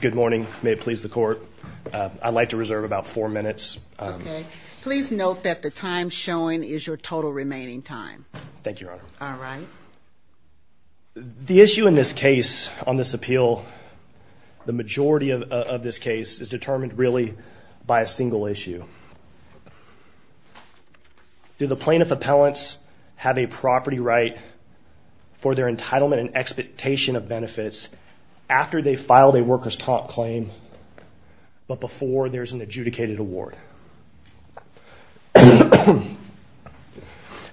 Good morning. May it please the court. I'd like to reserve about four minutes. Okay. Please note that the time showing is your total remaining time. Thank you, Your Honor. The issue in this case, on this appeal, the majority of this case, is determined really by a single issue. Do the plaintiff appellants have a property right for their entitlement and expectation of benefits after they filed a workers' comp claim but before there's an adjudicated award?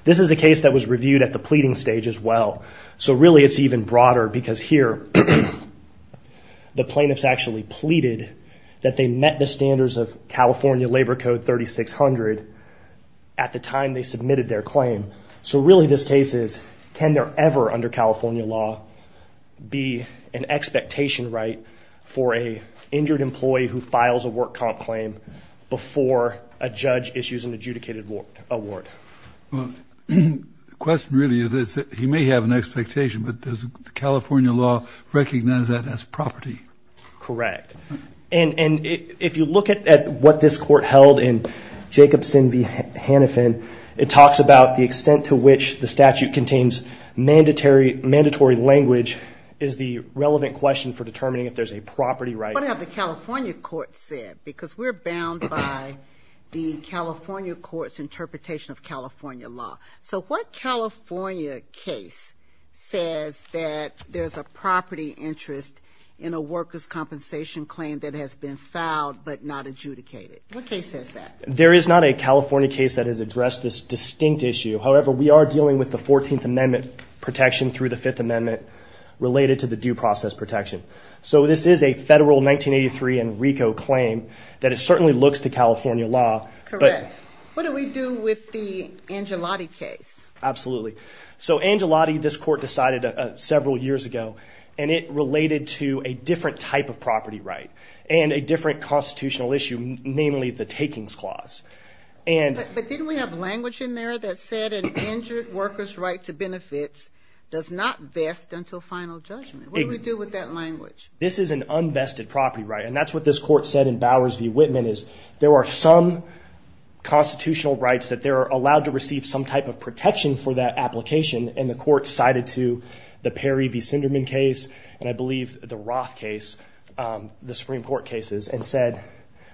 This is a case that was reviewed at the pleading stage as well. So really it's even broader because here the plaintiffs actually pleaded that they met the standards of California Labor Code 3600 at the time they submitted their claim. So really this case is, can there ever, under California law, be an expectation right for an injured employee who files a work comp claim before a judge issues an adjudicated award? Well, the question really is that he may have an expectation, but does California law recognize that as property? Correct. And if you look at what this court held in Jacobson v. Hannafin, it talks about the extent to which the statute contains mandatory language is the relevant question for determining if there's a property right. What have the California court said? Because we're bound by the California court's interpretation of California law. So what California case says that there's a property interest in a workers' compensation claim that has been filed but not adjudicated? What case says that? There is not a California case that has addressed this distinct issue. However, we are dealing with the 14th Amendment protection through the 5th Amendment related to the due process protection. So this is a federal 1983 and RICO claim that it certainly looks to California law. Correct. What do we do with the Angelotti case? Absolutely. So Angelotti, this court decided several years ago, and it related to a different type of property right and a different constitutional issue, namely the takings clause. But didn't we have language in there that said an injured worker's right to benefits does not vest until final judgment? What do we do with that language? This is an unvested property right, and that's what this court said in Bowers v. Whitman is there are some constitutional rights that they're allowed to receive some type of protection for that application, and the court cited to the Perry v. Sinderman case, and I believe the Roth case, the Supreme Court cases, and said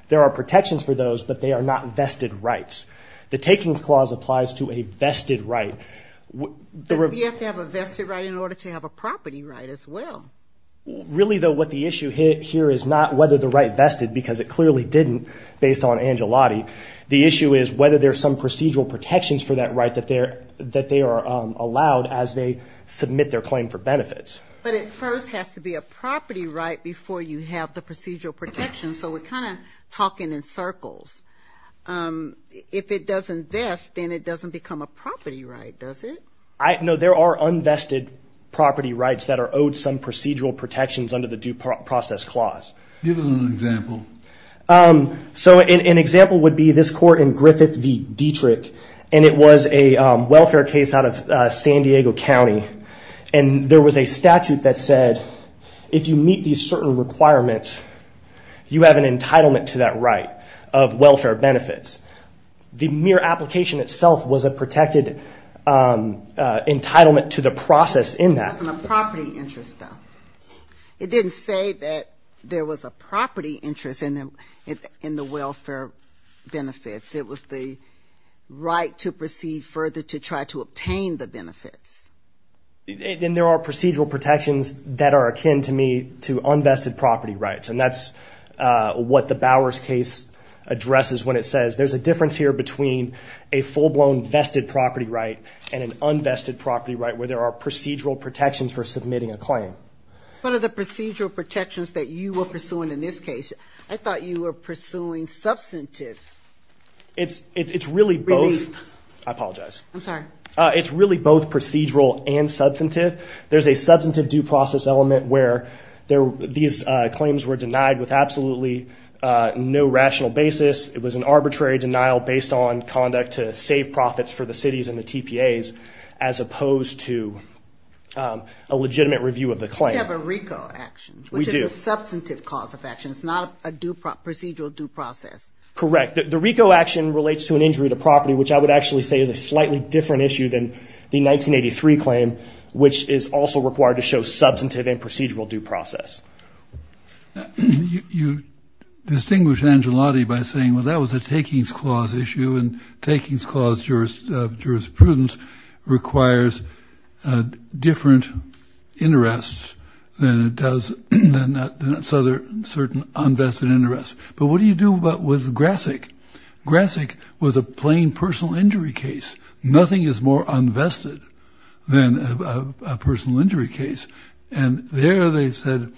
there are protections for those, but they are not vested rights. The takings clause applies to a vested right. But you have to have a vested right in order to have a property right as well. Really, though, what the issue here is not whether the right vested, because it clearly didn't based on Angelotti. The issue is whether there's some procedural protections for that right that they are allowed as they submit their claim for benefits. But it first has to be a property right before you have the procedural protection, so we're kind of talking in circles. If it doesn't vest, then it doesn't become a property right, does it? No, there are unvested property rights that are owed some procedural protections under the due process clause. Give us an example. So an example would be this court in Griffith v. Dietrich, and it was a welfare case out of San Diego County, and there was a statute that said if you meet these certain requirements, you have an entitlement to that right of welfare benefits. The mere application itself was a protected entitlement to the process in that. It wasn't a property interest, though. It didn't say that there was a property interest in the welfare benefits. It was the right to proceed further to try to obtain the benefits. And there are procedural protections that are akin to me to unvested property rights, and that's what the Bowers case addresses when it says there's a difference here between a full-blown vested property right and an unvested property right where there are procedural protections for submitting a claim. What are the procedural protections that you were pursuing in this case? I thought you were pursuing substantive relief. It's really both procedural and substantive. There's a substantive due process element where these claims were denied with absolutely no rational basis. It was an arbitrary denial based on conduct to save profits for the cities and the TPAs as opposed to a legitimate review of the claim. We have a RICO action, which is a substantive cause of action. It's not a procedural due process. Correct. The RICO action relates to an injury to property, which I would actually say is a slightly different issue than the 1983 claim, which is also required to show substantive and procedural due process. You distinguish Angelotti by saying, well, that was a takings clause issue, and takings clause jurisprudence requires different interests than it does certain unvested interests. But what do you do with Grasick? Grasick was a plain personal injury case. Nothing is more unvested than a personal injury case. And there they said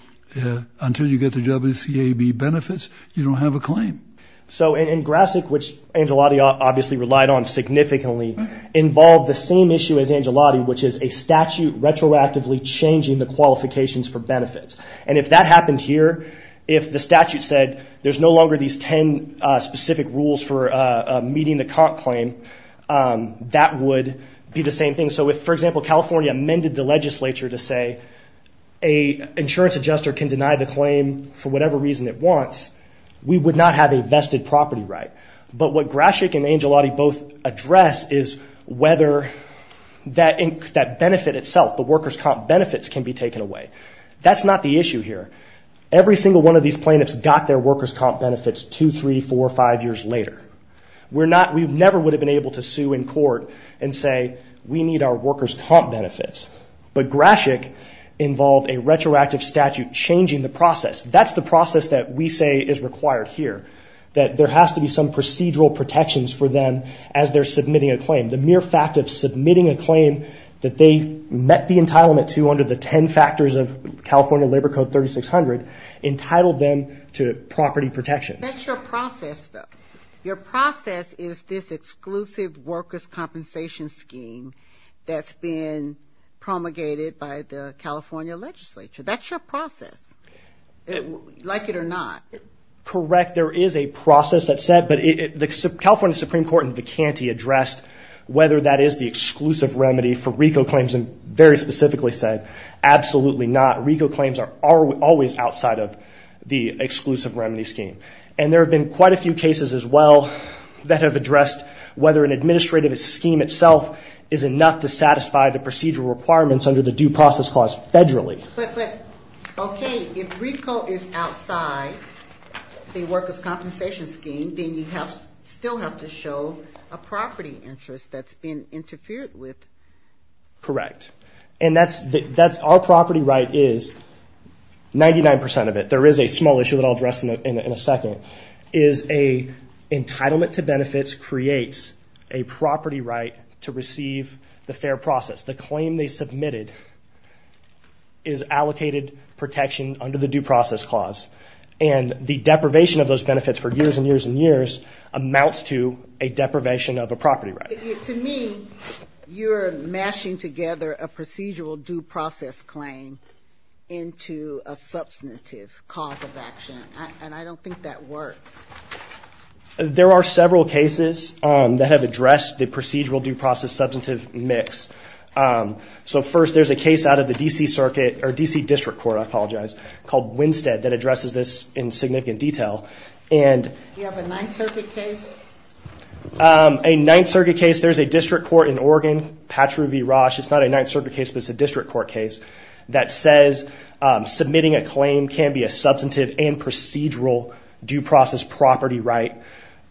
until you get the WCAB benefits, you don't have a claim. So in Grasick, which Angelotti obviously relied on significantly, involved the same issue as Angelotti, which is a statute retroactively changing the qualifications for benefits. And if that happened here, if the statute said there's no longer these ten specific rules for meeting the comp claim, that would be the same thing. So if, for example, California amended the legislature to say an insurance adjuster can deny the claim for whatever reason it wants, we would not have a vested property right. But what Grasick and Angelotti both address is whether that benefit itself, the workers' comp benefits, can be taken away. That's not the issue here. Every single one of these plaintiffs got their workers' comp benefits two, three, four, five years later. We never would have been able to sue in court and say we need our workers' comp benefits. But Grasick involved a retroactive statute changing the process. That's the process that we say is required here, that there has to be some procedural protections for them as they're submitting a claim. The mere fact of submitting a claim that they met the entitlement to under the ten factors of California Labor Code 3600 entitled them to property protections. That's your process, though. Your process is this exclusive workers' compensation scheme that's been promulgated by the California legislature. That's your process, like it or not. Correct. There is a process that's set, but the California Supreme Court in Vicanti addressed whether that is the exclusive remedy for RICO claims and very specifically said absolutely not. RICO claims are always outside of the exclusive remedy scheme. And there have been quite a few cases as well that have addressed whether an administrative scheme itself is enough to satisfy the procedural requirements under the Due Process Clause federally. But, okay, if RICO is outside the workers' compensation scheme, then you still have to show a property interest that's been interfered with. Correct. And that's our property right is, 99% of it, there is a small issue that I'll address in a second, is an entitlement to benefits creates a property right to receive the fair process. The claim they submitted is allocated protection under the Due Process Clause. And the deprivation of those benefits for years and years and years amounts to a deprivation of a property right. To me, you're mashing together a procedural due process claim into a substantive cause of action, and I don't think that works. There are several cases that have addressed the procedural due process substantive mix. So first, there's a case out of the D.C. Circuit, or D.C. District Court, I apologize, called Winstead that addresses this in significant detail. Do you have a Ninth Circuit case? A Ninth Circuit case, there's a district court in Oregon, Patru V. Roche, it's not a Ninth Circuit case, but it's a district court case, that says submitting a claim can be a substantive and procedural due process property right.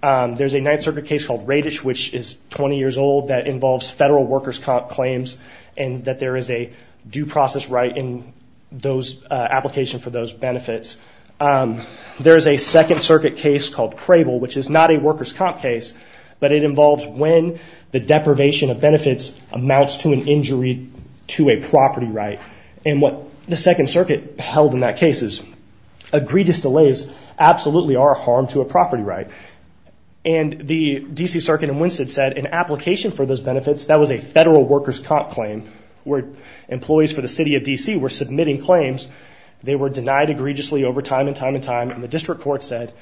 There's a Ninth Circuit case called Radish, which is 20 years old, that involves federal workers' comp claims, and that there is a due process right in those applications for those benefits. There's a Second Circuit case called Crable, which is not a workers' comp case, but it involves when the deprivation of benefits amounts to an injury to a property right. And what the Second Circuit held in that case is, that egregious delays absolutely are a harm to a property right. And the D.C. Circuit in Winstead said an application for those benefits, that was a federal workers' comp claim, where employees for the city of D.C. were submitting claims, they were denied egregiously over time and time and time, and the district court said,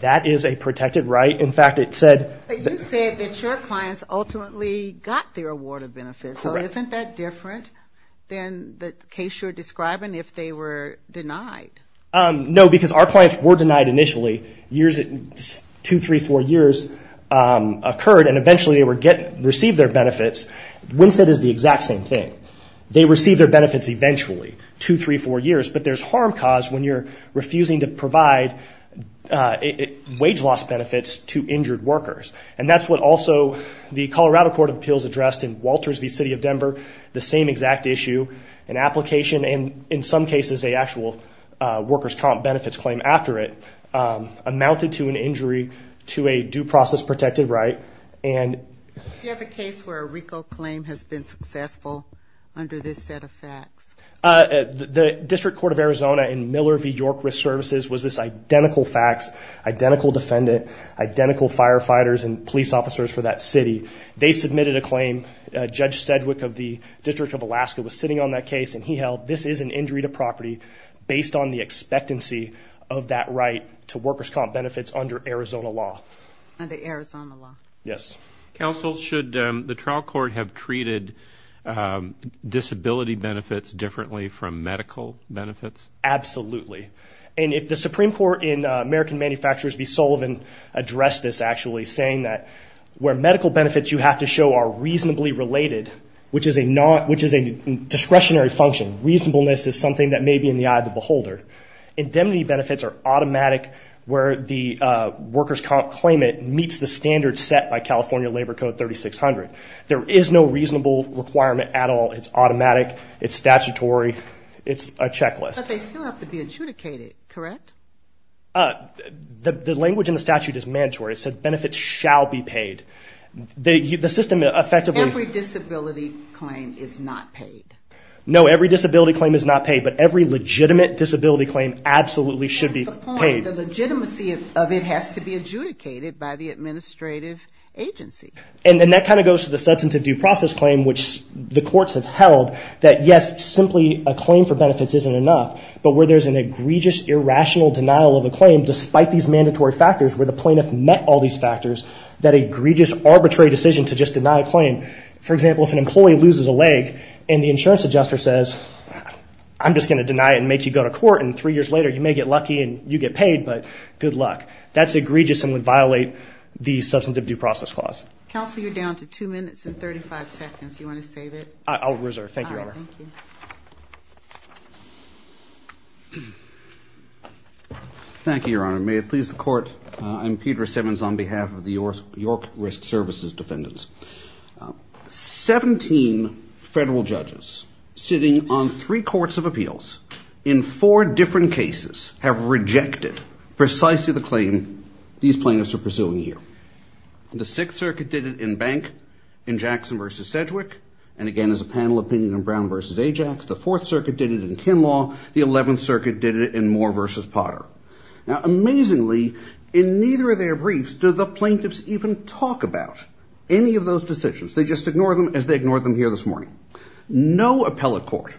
that is a protected right. In fact, it said... But you said that your clients ultimately got their award of benefits, so isn't that different than the case you're describing if they were denied? No, because our clients were denied initially, two, three, four years occurred, and eventually they received their benefits. Winstead is the exact same thing. They received their benefits eventually, two, three, four years, but there's harm caused when you're refusing to provide wage loss benefits to injured workers. And that's what also the Colorado Court of Appeals addressed in Walters v. City of Denver, the same exact issue. An application, and in some cases a actual workers' comp benefits claim after it, amounted to an injury to a due process protected right. Do you have a case where a RICO claim has been successful under this set of facts? The District Court of Arizona in Miller v. York Risk Services was this identical fax, identical defendant, identical firefighters and police officers for that city. They submitted a claim. Judge Sedgwick of the District of Alaska was sitting on that case, and he held this is an injury to property based on the expectancy of that right to workers' comp benefits under Arizona law. Under Arizona law. Yes. Counsel, should the trial court have treated disability benefits differently from medical benefits? Absolutely. And if the Supreme Court in American Manufacturers v. Sullivan addressed this, where medical benefits you have to show are reasonably related, which is a discretionary function, reasonableness is something that may be in the eye of the beholder, indemnity benefits are automatic where the workers' comp claimant meets the standards set by California Labor Code 3600. There is no reasonable requirement at all. It's automatic. It's statutory. It's a checklist. But they still have to be adjudicated, correct? The language in the statute is mandatory. It says benefits shall be paid. Every disability claim is not paid. No, every disability claim is not paid. But every legitimate disability claim absolutely should be paid. The legitimacy of it has to be adjudicated by the administrative agency. And that kind of goes to the substantive due process claim, which the courts have held, that yes, simply a claim for benefits isn't enough. But where there's an egregious, irrational denial of a claim, despite these mandatory factors where the plaintiff met all these factors, that egregious, arbitrary decision to just deny a claim. For example, if an employee loses a leg and the insurance adjuster says, I'm just going to deny it and make you go to court and three years later you may get lucky and you get paid, but good luck. That's egregious and would violate the substantive due process clause. Counsel, you're down to two minutes and 35 seconds. Do you want to save it? I'll reserve. Thank you, Your Honor. All right. Thank you. Thank you, Your Honor. May it please the court. I'm Peter Simmons on behalf of the York Risk Services Defendants. Seventeen federal judges sitting on three courts of appeals in four different cases have rejected precisely the claim these plaintiffs are pursuing here. The Sixth Circuit did it in Bank in Jackson v. Sedgwick, and again as a panel opinion in Brown v. Ajax. The Fourth Circuit did it in Kinlaw. The Eleventh Circuit did it in Moore v. Potter. Now, amazingly, in neither of their briefs do the plaintiffs even talk about any of those decisions. They just ignore them as they ignored them here this morning. No appellate court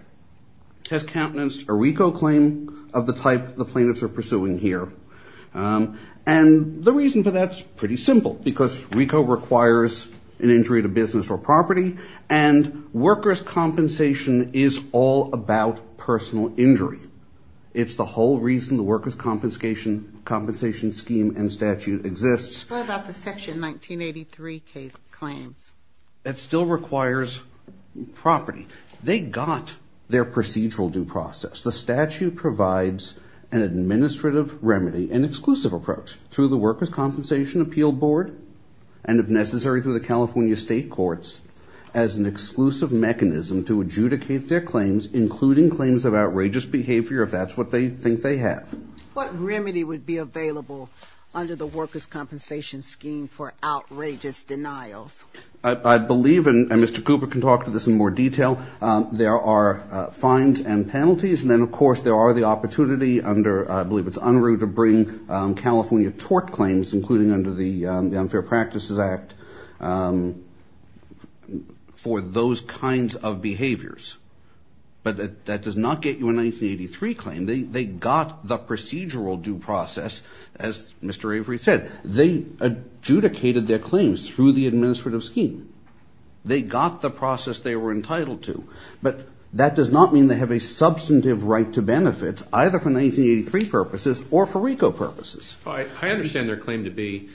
has countenanced a RICO claim of the type the plaintiffs are pursuing here, and the reason for that is pretty simple because RICO requires an injury to business or property and workers' compensation is all about personal injury. It's the whole reason the workers' compensation scheme and statute exists. What about the Section 1983 claims? It still requires property. They got their procedural due process. The statute provides an administrative remedy, an exclusive approach, through the Workers' Compensation Appeal Board and, if necessary, through the California State Courts, as an exclusive mechanism to adjudicate their claims, including claims of outrageous behavior, if that's what they think they have. What remedy would be available under the Workers' Compensation Scheme for outrageous denials? I believe, and Mr. Cooper can talk to this in more detail, there are fines and penalties, and then, of course, there are the opportunity under, I believe it's Unruh, to bring California tort claims, including under the Unfair Practices Act, for those kinds of behaviors. But that does not get you a 1983 claim. They got the procedural due process, as Mr. Avery said. They adjudicated their claims through the administrative scheme. They got the process they were entitled to, but that does not mean they have a substantive right to benefit, either for 1983 purposes or for RICO purposes. I understand their claim to be.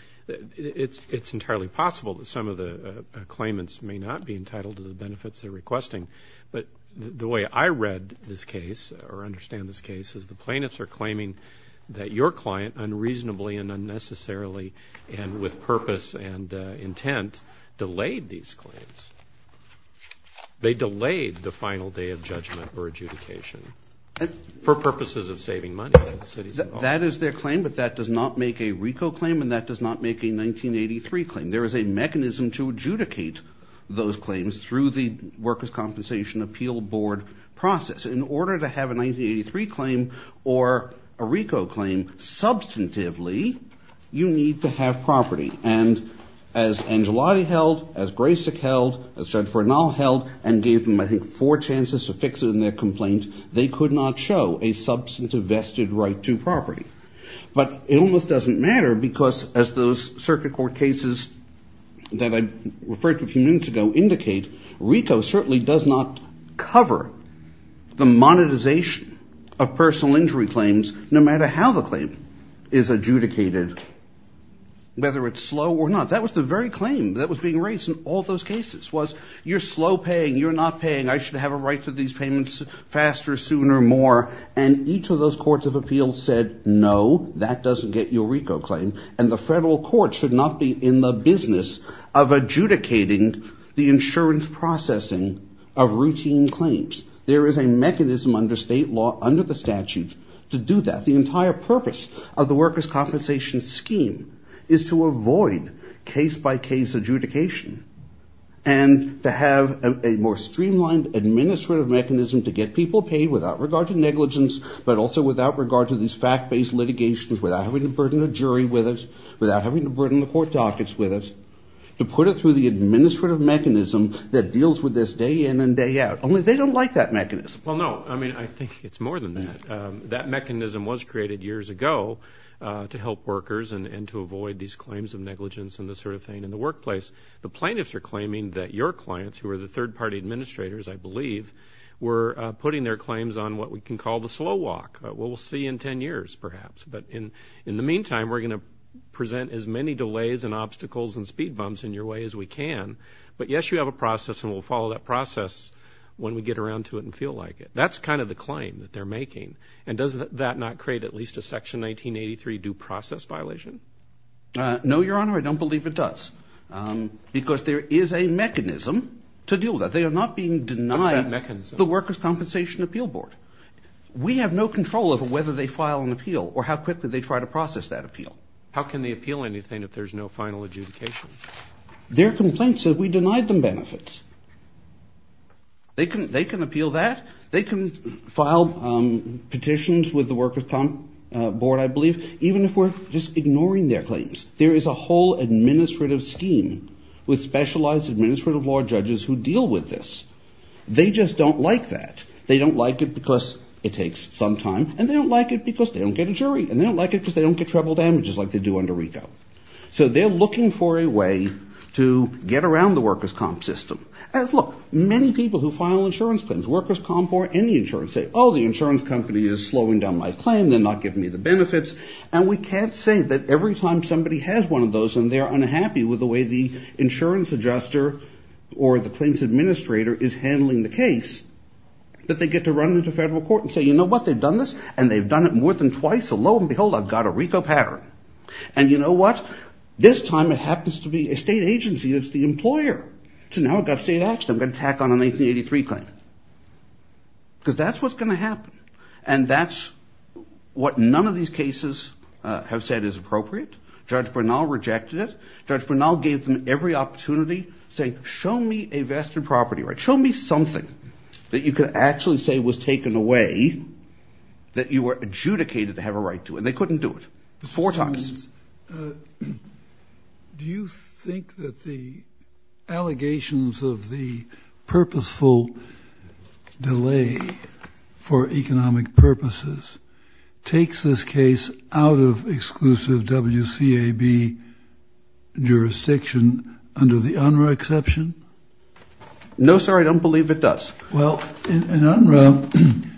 It's entirely possible that some of the claimants may not be entitled to the benefits they're requesting, but the way I read this case, or understand this case, is the plaintiffs are claiming that your client unreasonably and unnecessarily and with purpose and intent delayed these claims. They delayed the final day of judgment or adjudication for purposes of saving money. That is their claim, but that does not make a RICO claim, and that does not make a 1983 claim. There is a mechanism to adjudicate those claims through the Workers' Compensation Appeal Board process. In order to have a 1983 claim or a RICO claim, substantively, you need to have property. And as Angelotti held, as Graysock held, as Judge Bernal held, and gave them, I think, four chances to fix it in their complaint, they could not show a substantive vested right to property. But it almost doesn't matter because, as those circuit court cases that I referred to a few minutes ago indicate, RICO certainly does not cover the monetization of personal injury claims, no matter how the claim is adjudicated, whether it's slow or not. That was the very claim that was being raised in all those cases was, you're slow paying, you're not paying, I should have a right to these payments faster, sooner, more. And each of those courts of appeals said, no, that doesn't get you a RICO claim, and the federal court should not be in the business of adjudicating the insurance processing of routine claims. There is a mechanism under state law, under the statute, to do that. The entire purpose of the workers' compensation scheme is to avoid case-by-case adjudication and to have a more streamlined administrative mechanism to get people paid without regard to negligence, but also without regard to these fact-based litigations, without having to burden a jury with it, without having to burden the court dockets with it, to put it through the administrative mechanism that deals with this day in and day out. Only they don't like that mechanism. Well, no. I mean, I think it's more than that. That mechanism was created years ago to help workers and to avoid these claims of negligence and this sort of thing in the workplace. The plaintiffs are claiming that your clients, who are the third-party administrators, I believe, were putting their claims on what we can call the slow walk. We'll see in ten years, perhaps. But in the meantime, we're going to present as many delays and obstacles and speed bumps in your way as we can. But, yes, you have a process and we'll follow that process when we get around to it and feel like it. That's kind of the claim that they're making. And does that not create at least a Section 1983 due process violation? No, Your Honor. I don't believe it does because there is a mechanism to deal with that. They are not being denied the Workers' Compensation Appeal Board. We have no control over whether they file an appeal or how quickly they try to process that appeal. How can they appeal anything if there's no final adjudication? Their complaint says we denied them benefits. They can appeal that. They can file petitions with the Workers' Comp Board, I believe, even if we're just ignoring their claims. There is a whole administrative scheme with specialized administrative law judges who deal with this. They just don't like that. They don't like it because it takes some time, and they don't like it because they don't get a jury, and they don't like it because they don't get treble damages like they do under RICO. So they're looking for a way to get around the Workers' Comp system. Look, many people who file insurance claims, Workers' Comp or any insurance say, oh, the insurance company is slowing down my claim. They're not giving me the benefits. And we can't say that every time somebody has one of those and they're unhappy with the way the insurance adjuster or the claims administrator is handling the case that they get to run into federal court and say, you know what, they've done this, and they've done it more than twice, so lo and behold, I've got a RICO pattern. And you know what? This time it happens to be a state agency that's the employer. So now I've got state action. I'm going to tack on a 1983 claim because that's what's going to happen, and that's what none of these cases have said is appropriate. Judge Bernal rejected it. Judge Bernal gave them every opportunity to say, show me a vested property right. Show me something that you could actually say was taken away that you were adjudicated to have a right to, and they couldn't do it four times. Do you think that the allegations of the purposeful delay for economic purposes takes this case out of exclusive WCAB jurisdiction under the UNRWA exception? No, sir, I don't believe it does. Well, in UNRWA,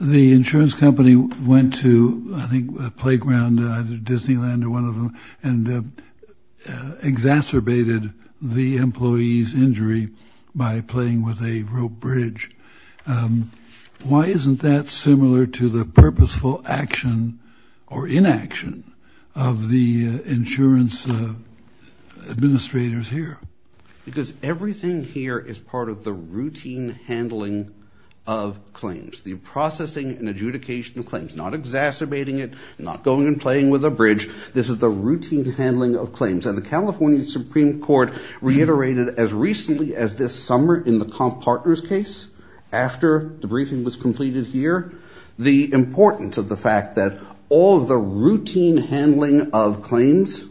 the insurance company went to, I think, a playground, either Disneyland or one of them, and exacerbated the employee's injury by playing with a rope bridge. Why isn't that similar to the purposeful action or inaction of the insurance administrators here? Because everything here is part of the routine handling of claims, the processing and adjudication of claims, not exacerbating it, not going and playing with a bridge. This is the routine handling of claims, and the California Supreme Court reiterated as recently as this summer in the Comp Partners case, after the briefing was completed here, the importance of the fact that all of the routine handling of claims,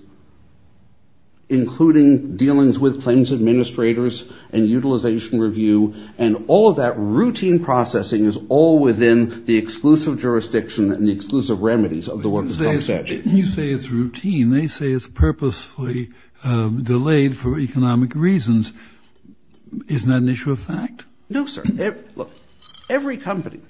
including dealings with claims administrators and utilization review, and all of that routine processing is all within the exclusive jurisdiction and the exclusive remedies of the WCAB statute. You say it's routine. They say it's purposefully delayed for economic reasons. Isn't that an issue of fact? No, sir. Look, every company,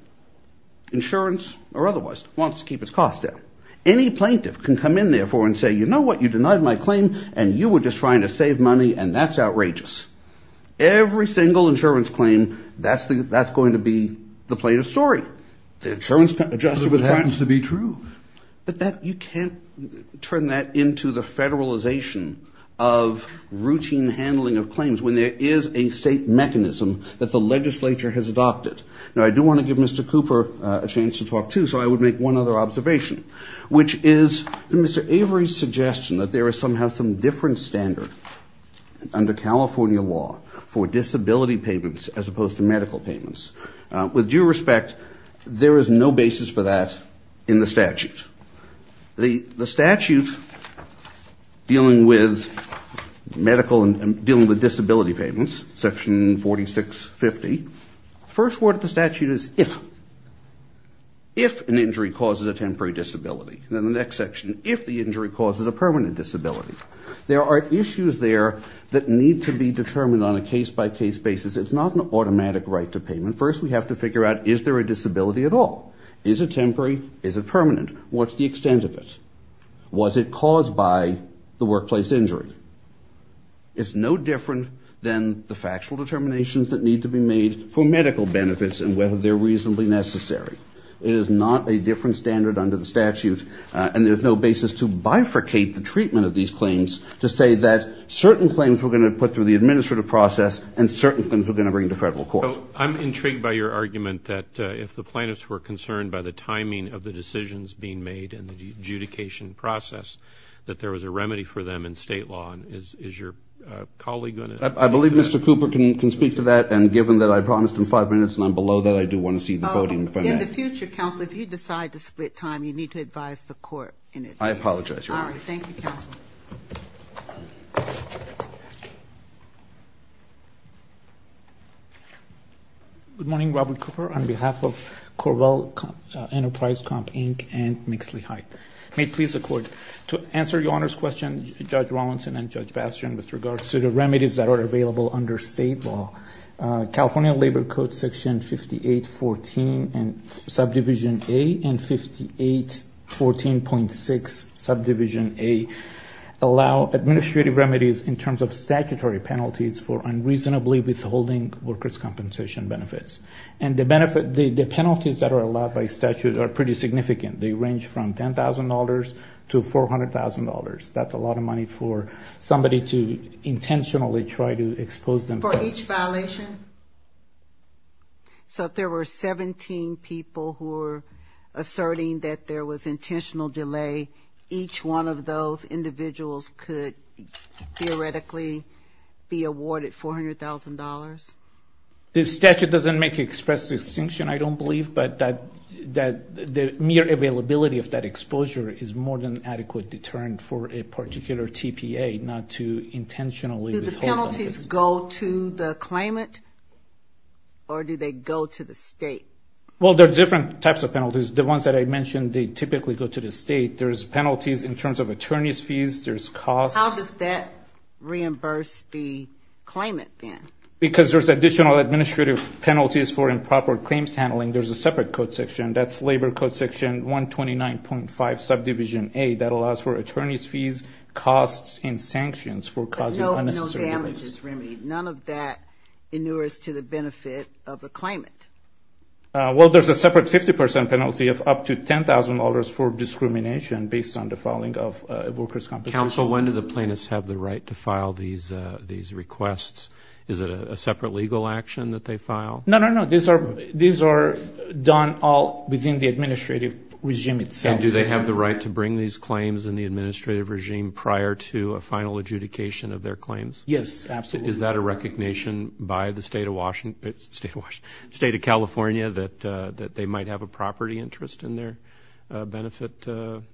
insurance or otherwise, wants to keep its costs down. Any plaintiff can come in, therefore, and say, you know what, you denied my claim, and you were just trying to save money, and that's outrageous. Every single insurance claim, that's going to be the plaintiff's story. The insurance adjustment was planned to be true. But you can't turn that into the federalization of routine handling of claims when there is a state mechanism that the legislature has adopted. Now, I do want to give Mr. Cooper a chance to talk, too, so I would make one other observation, which is Mr. Avery's suggestion that there is somehow some different standard under California law for disability payments as opposed to medical payments. With due respect, there is no basis for that in the statute. The statute dealing with medical and dealing with disability payments, section 4650, the first word of the statute is if. If an injury causes a temporary disability. Then the next section, if the injury causes a permanent disability. There are issues there that need to be determined on a case-by-case basis. It's not an automatic right to payment. First, we have to figure out, is there a disability at all? Is it temporary? Is it permanent? What's the extent of it? Was it caused by the workplace injury? It's no different than the factual determinations that need to be made for medical benefits and whether they're reasonably necessary. It is not a different standard under the statute, and there's no basis to bifurcate the treatment of these claims to say that certain claims we're going to put through the administrative process and certain claims we're going to bring to federal court. So I'm intrigued by your argument that if the plaintiffs were concerned by the timing of the decisions being made and the adjudication process, that there was a remedy for them in state law. And is your colleague going to? I believe Mr. Cooper can speak to that, and given that I promised him five minutes and I'm below that, I do want to see the voting for that. In the future, counsel, if you decide to split time, you need to advise the court in it. I apologize, Your Honor. All right. Thank you, counsel. Good morning, Robert Cooper. On behalf of Corvall Enterprise Comp Inc. and Mixley Hyatt, may it please the Court, to answer Your Honor's question, Judge Rawlinson and Judge Bastian, with regards to the remedies that are available under state law, California Labor Code Section 5814 and Subdivision A and 5814.6 Subdivision A allow administrative remedies in terms of statutory penalties for unreasonably withholding workers' compensation benefits. And the penalties that are allowed by statute are pretty significant. They range from $10,000 to $400,000. That's a lot of money for somebody to intentionally try to expose them. For each violation? So if there were 17 people who were asserting that there was intentional delay, each one of those individuals could theoretically be awarded $400,000? The statute doesn't make express distinction, I don't believe, but the mere availability of that exposure is more than adequate deterrent for a particular TPA not to intentionally withhold. Do the penalties go to the claimant or do they go to the state? Well, there are different types of penalties. The ones that I mentioned, they typically go to the state. There's penalties in terms of attorney's fees. There's costs. How does that reimburse the claimant then? Because there's additional administrative penalties for improper claims handling. There's a separate code section. That's Labor Code Section 129.5, Subdivision A. That allows for attorney's fees, costs, and sanctions for causing unnecessary delays. But no damages remedy. None of that inures to the benefit of the claimant. Well, there's a separate 50% penalty of up to $10,000 for discrimination based on the filing of workers' compensation. Counsel, when do the plaintiffs have the right to file these requests? Is it a separate legal action that they file? No, no, no. These are done all within the administrative regime itself. And do they have the right to bring these claims in the administrative regime prior to a final adjudication of their claims? Yes, absolutely. Is that a recognition by the State of California that they might have a property interest in their benefit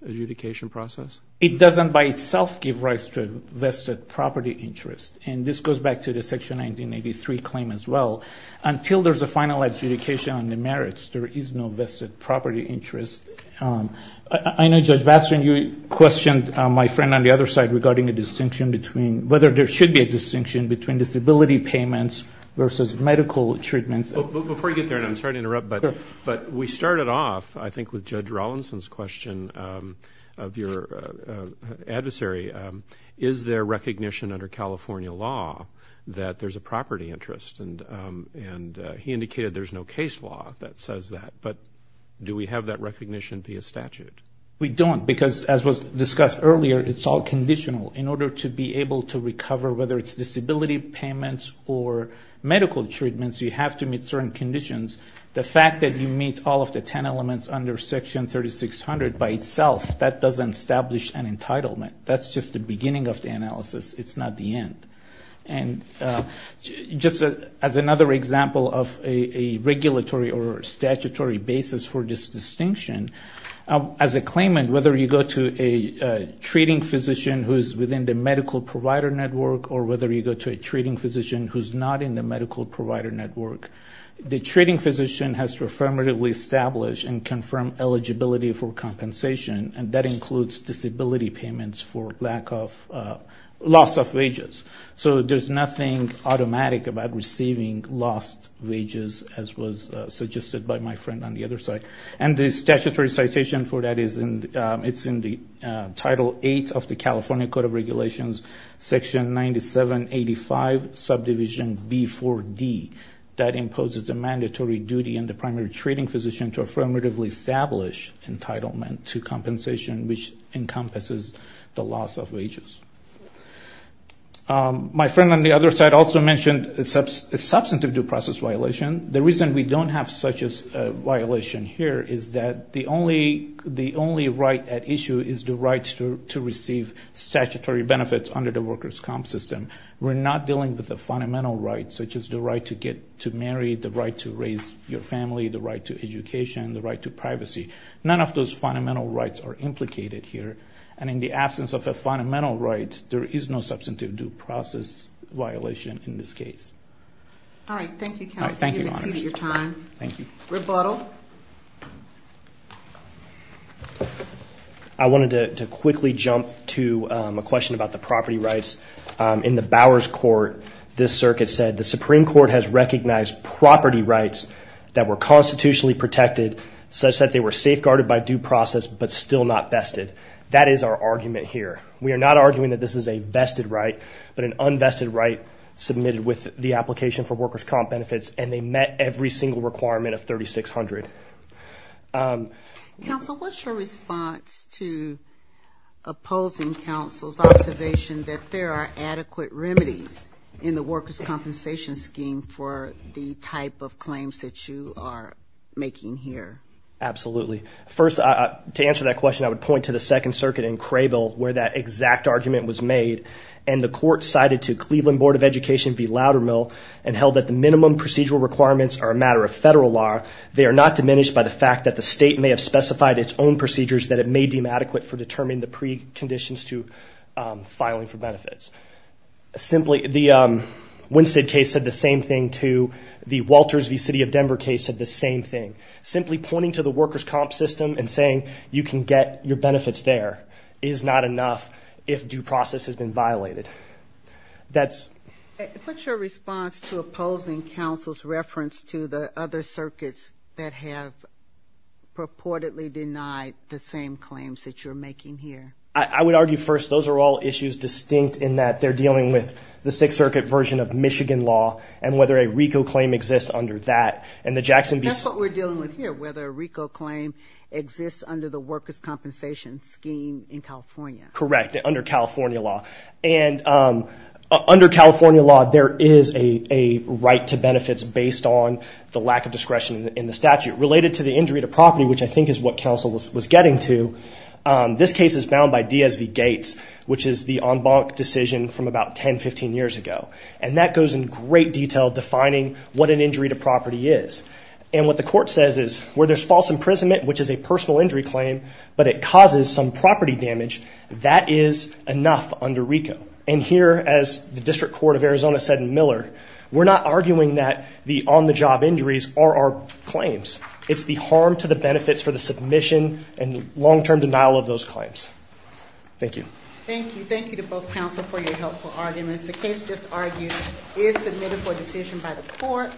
adjudication process? It doesn't by itself give rights to vested property interest. And this goes back to the Section 1983 claim as well. Until there's a final adjudication on the merits, there is no vested property interest. I know, Judge Batson, you questioned my friend on the other side regarding a distinction between whether there should be a distinction between disability payments versus medical treatments. Before you get there, and I'm sorry to interrupt, but we started off, I think, with Judge Rawlinson's question of your adversary. Is there recognition under California law that there's a property interest? And he indicated there's no case law that says that. But do we have that recognition via statute? We don't because, as was discussed earlier, it's all conditional. In order to be able to recover, whether it's disability payments or medical treatments, you have to meet certain conditions. The fact that you meet all of the ten elements under Section 3600 by itself, that doesn't establish an entitlement. That's just the beginning of the analysis. It's not the end. And just as another example of a regulatory or statutory basis for this distinction, as a claimant, whether you go to a treating physician who's within the medical provider network or whether you go to a treating physician who's not in the medical provider network, the treating physician has to affirmatively establish and confirm eligibility for compensation, and that includes disability payments for loss of wages. So there's nothing automatic about receiving lost wages, as was suggested by my friend on the other side. And the statutory citation for that is in the Title VIII of the California Code of Regulations, Section 9785, Subdivision B4D, that imposes a mandatory duty on the primary treating physician to affirmatively establish entitlement to compensation, which encompasses the loss of wages. My friend on the other side also mentioned a substantive due process violation. The reason we don't have such a violation here is that the only right at issue is the right to receive statutory benefits under the workers' comp system. We're not dealing with the fundamental rights, such as the right to get married, the right to raise your family, the right to education, the right to privacy. None of those fundamental rights are implicated here, and in the absence of a fundamental right, there is no substantive due process violation in this case. All right, thank you, counsel. Thank you, Your Honors. You've exceeded your time. Thank you. Rebuttal. I wanted to quickly jump to a question about the property rights. In the Bowers Court, this circuit said, the Supreme Court has recognized property rights that were constitutionally protected, such that they were safeguarded by due process but still not vested. That is our argument here. We are not arguing that this is a vested right, but an unvested right submitted with the application for workers' comp benefits, and they met every single requirement of 3600. Counsel, what's your response to opposing counsel's observation that there are adequate remedies in the workers' compensation scheme for the type of claims that you are making here? Absolutely. First, to answer that question, I would point to the Second Circuit in Crable, where that exact argument was made, and the court cited to Cleveland Board of Education v. Loudermill and held that the minimum procedural requirements are a matter of federal law. They are not diminished by the fact that the state may have specified its own procedures that it may deem adequate for determining the preconditions to filing for benefits. The Winstead case said the same thing, too. The Walters v. City of Denver case said the same thing. Simply pointing to the workers' comp system and saying, you can get your benefits there is not enough if due process has been violated. What's your response to opposing counsel's reference to the other circuits that have purportedly denied the same claims that you're making here? I would argue, first, those are all issues distinct in that they're dealing with the Sixth Circuit version of Michigan law and whether a RICO claim exists under that, and the Jackson v. That's what we're dealing with here, whether a RICO claim exists under the workers' compensation scheme in California. Correct, under California law. And under California law, there is a right to benefits based on the lack of discretion in the statute. Related to the injury to property, which I think is what counsel was getting to, this case is bound by D.S.V. Gates, which is the en banc decision from about 10, 15 years ago. And that goes in great detail defining what an injury to property is. And what the court says is where there's false imprisonment, which is a personal injury claim, but it causes some property damage, that is enough under RICO. And here, as the District Court of Arizona said in Miller, we're not arguing that the on-the-job injuries are our claims. It's the harm to the benefits for the submission and long-term denial of those claims. Thank you. Thank you. Thank you to both counsel for your helpful arguments. The case just argued is submitted for decision by the court.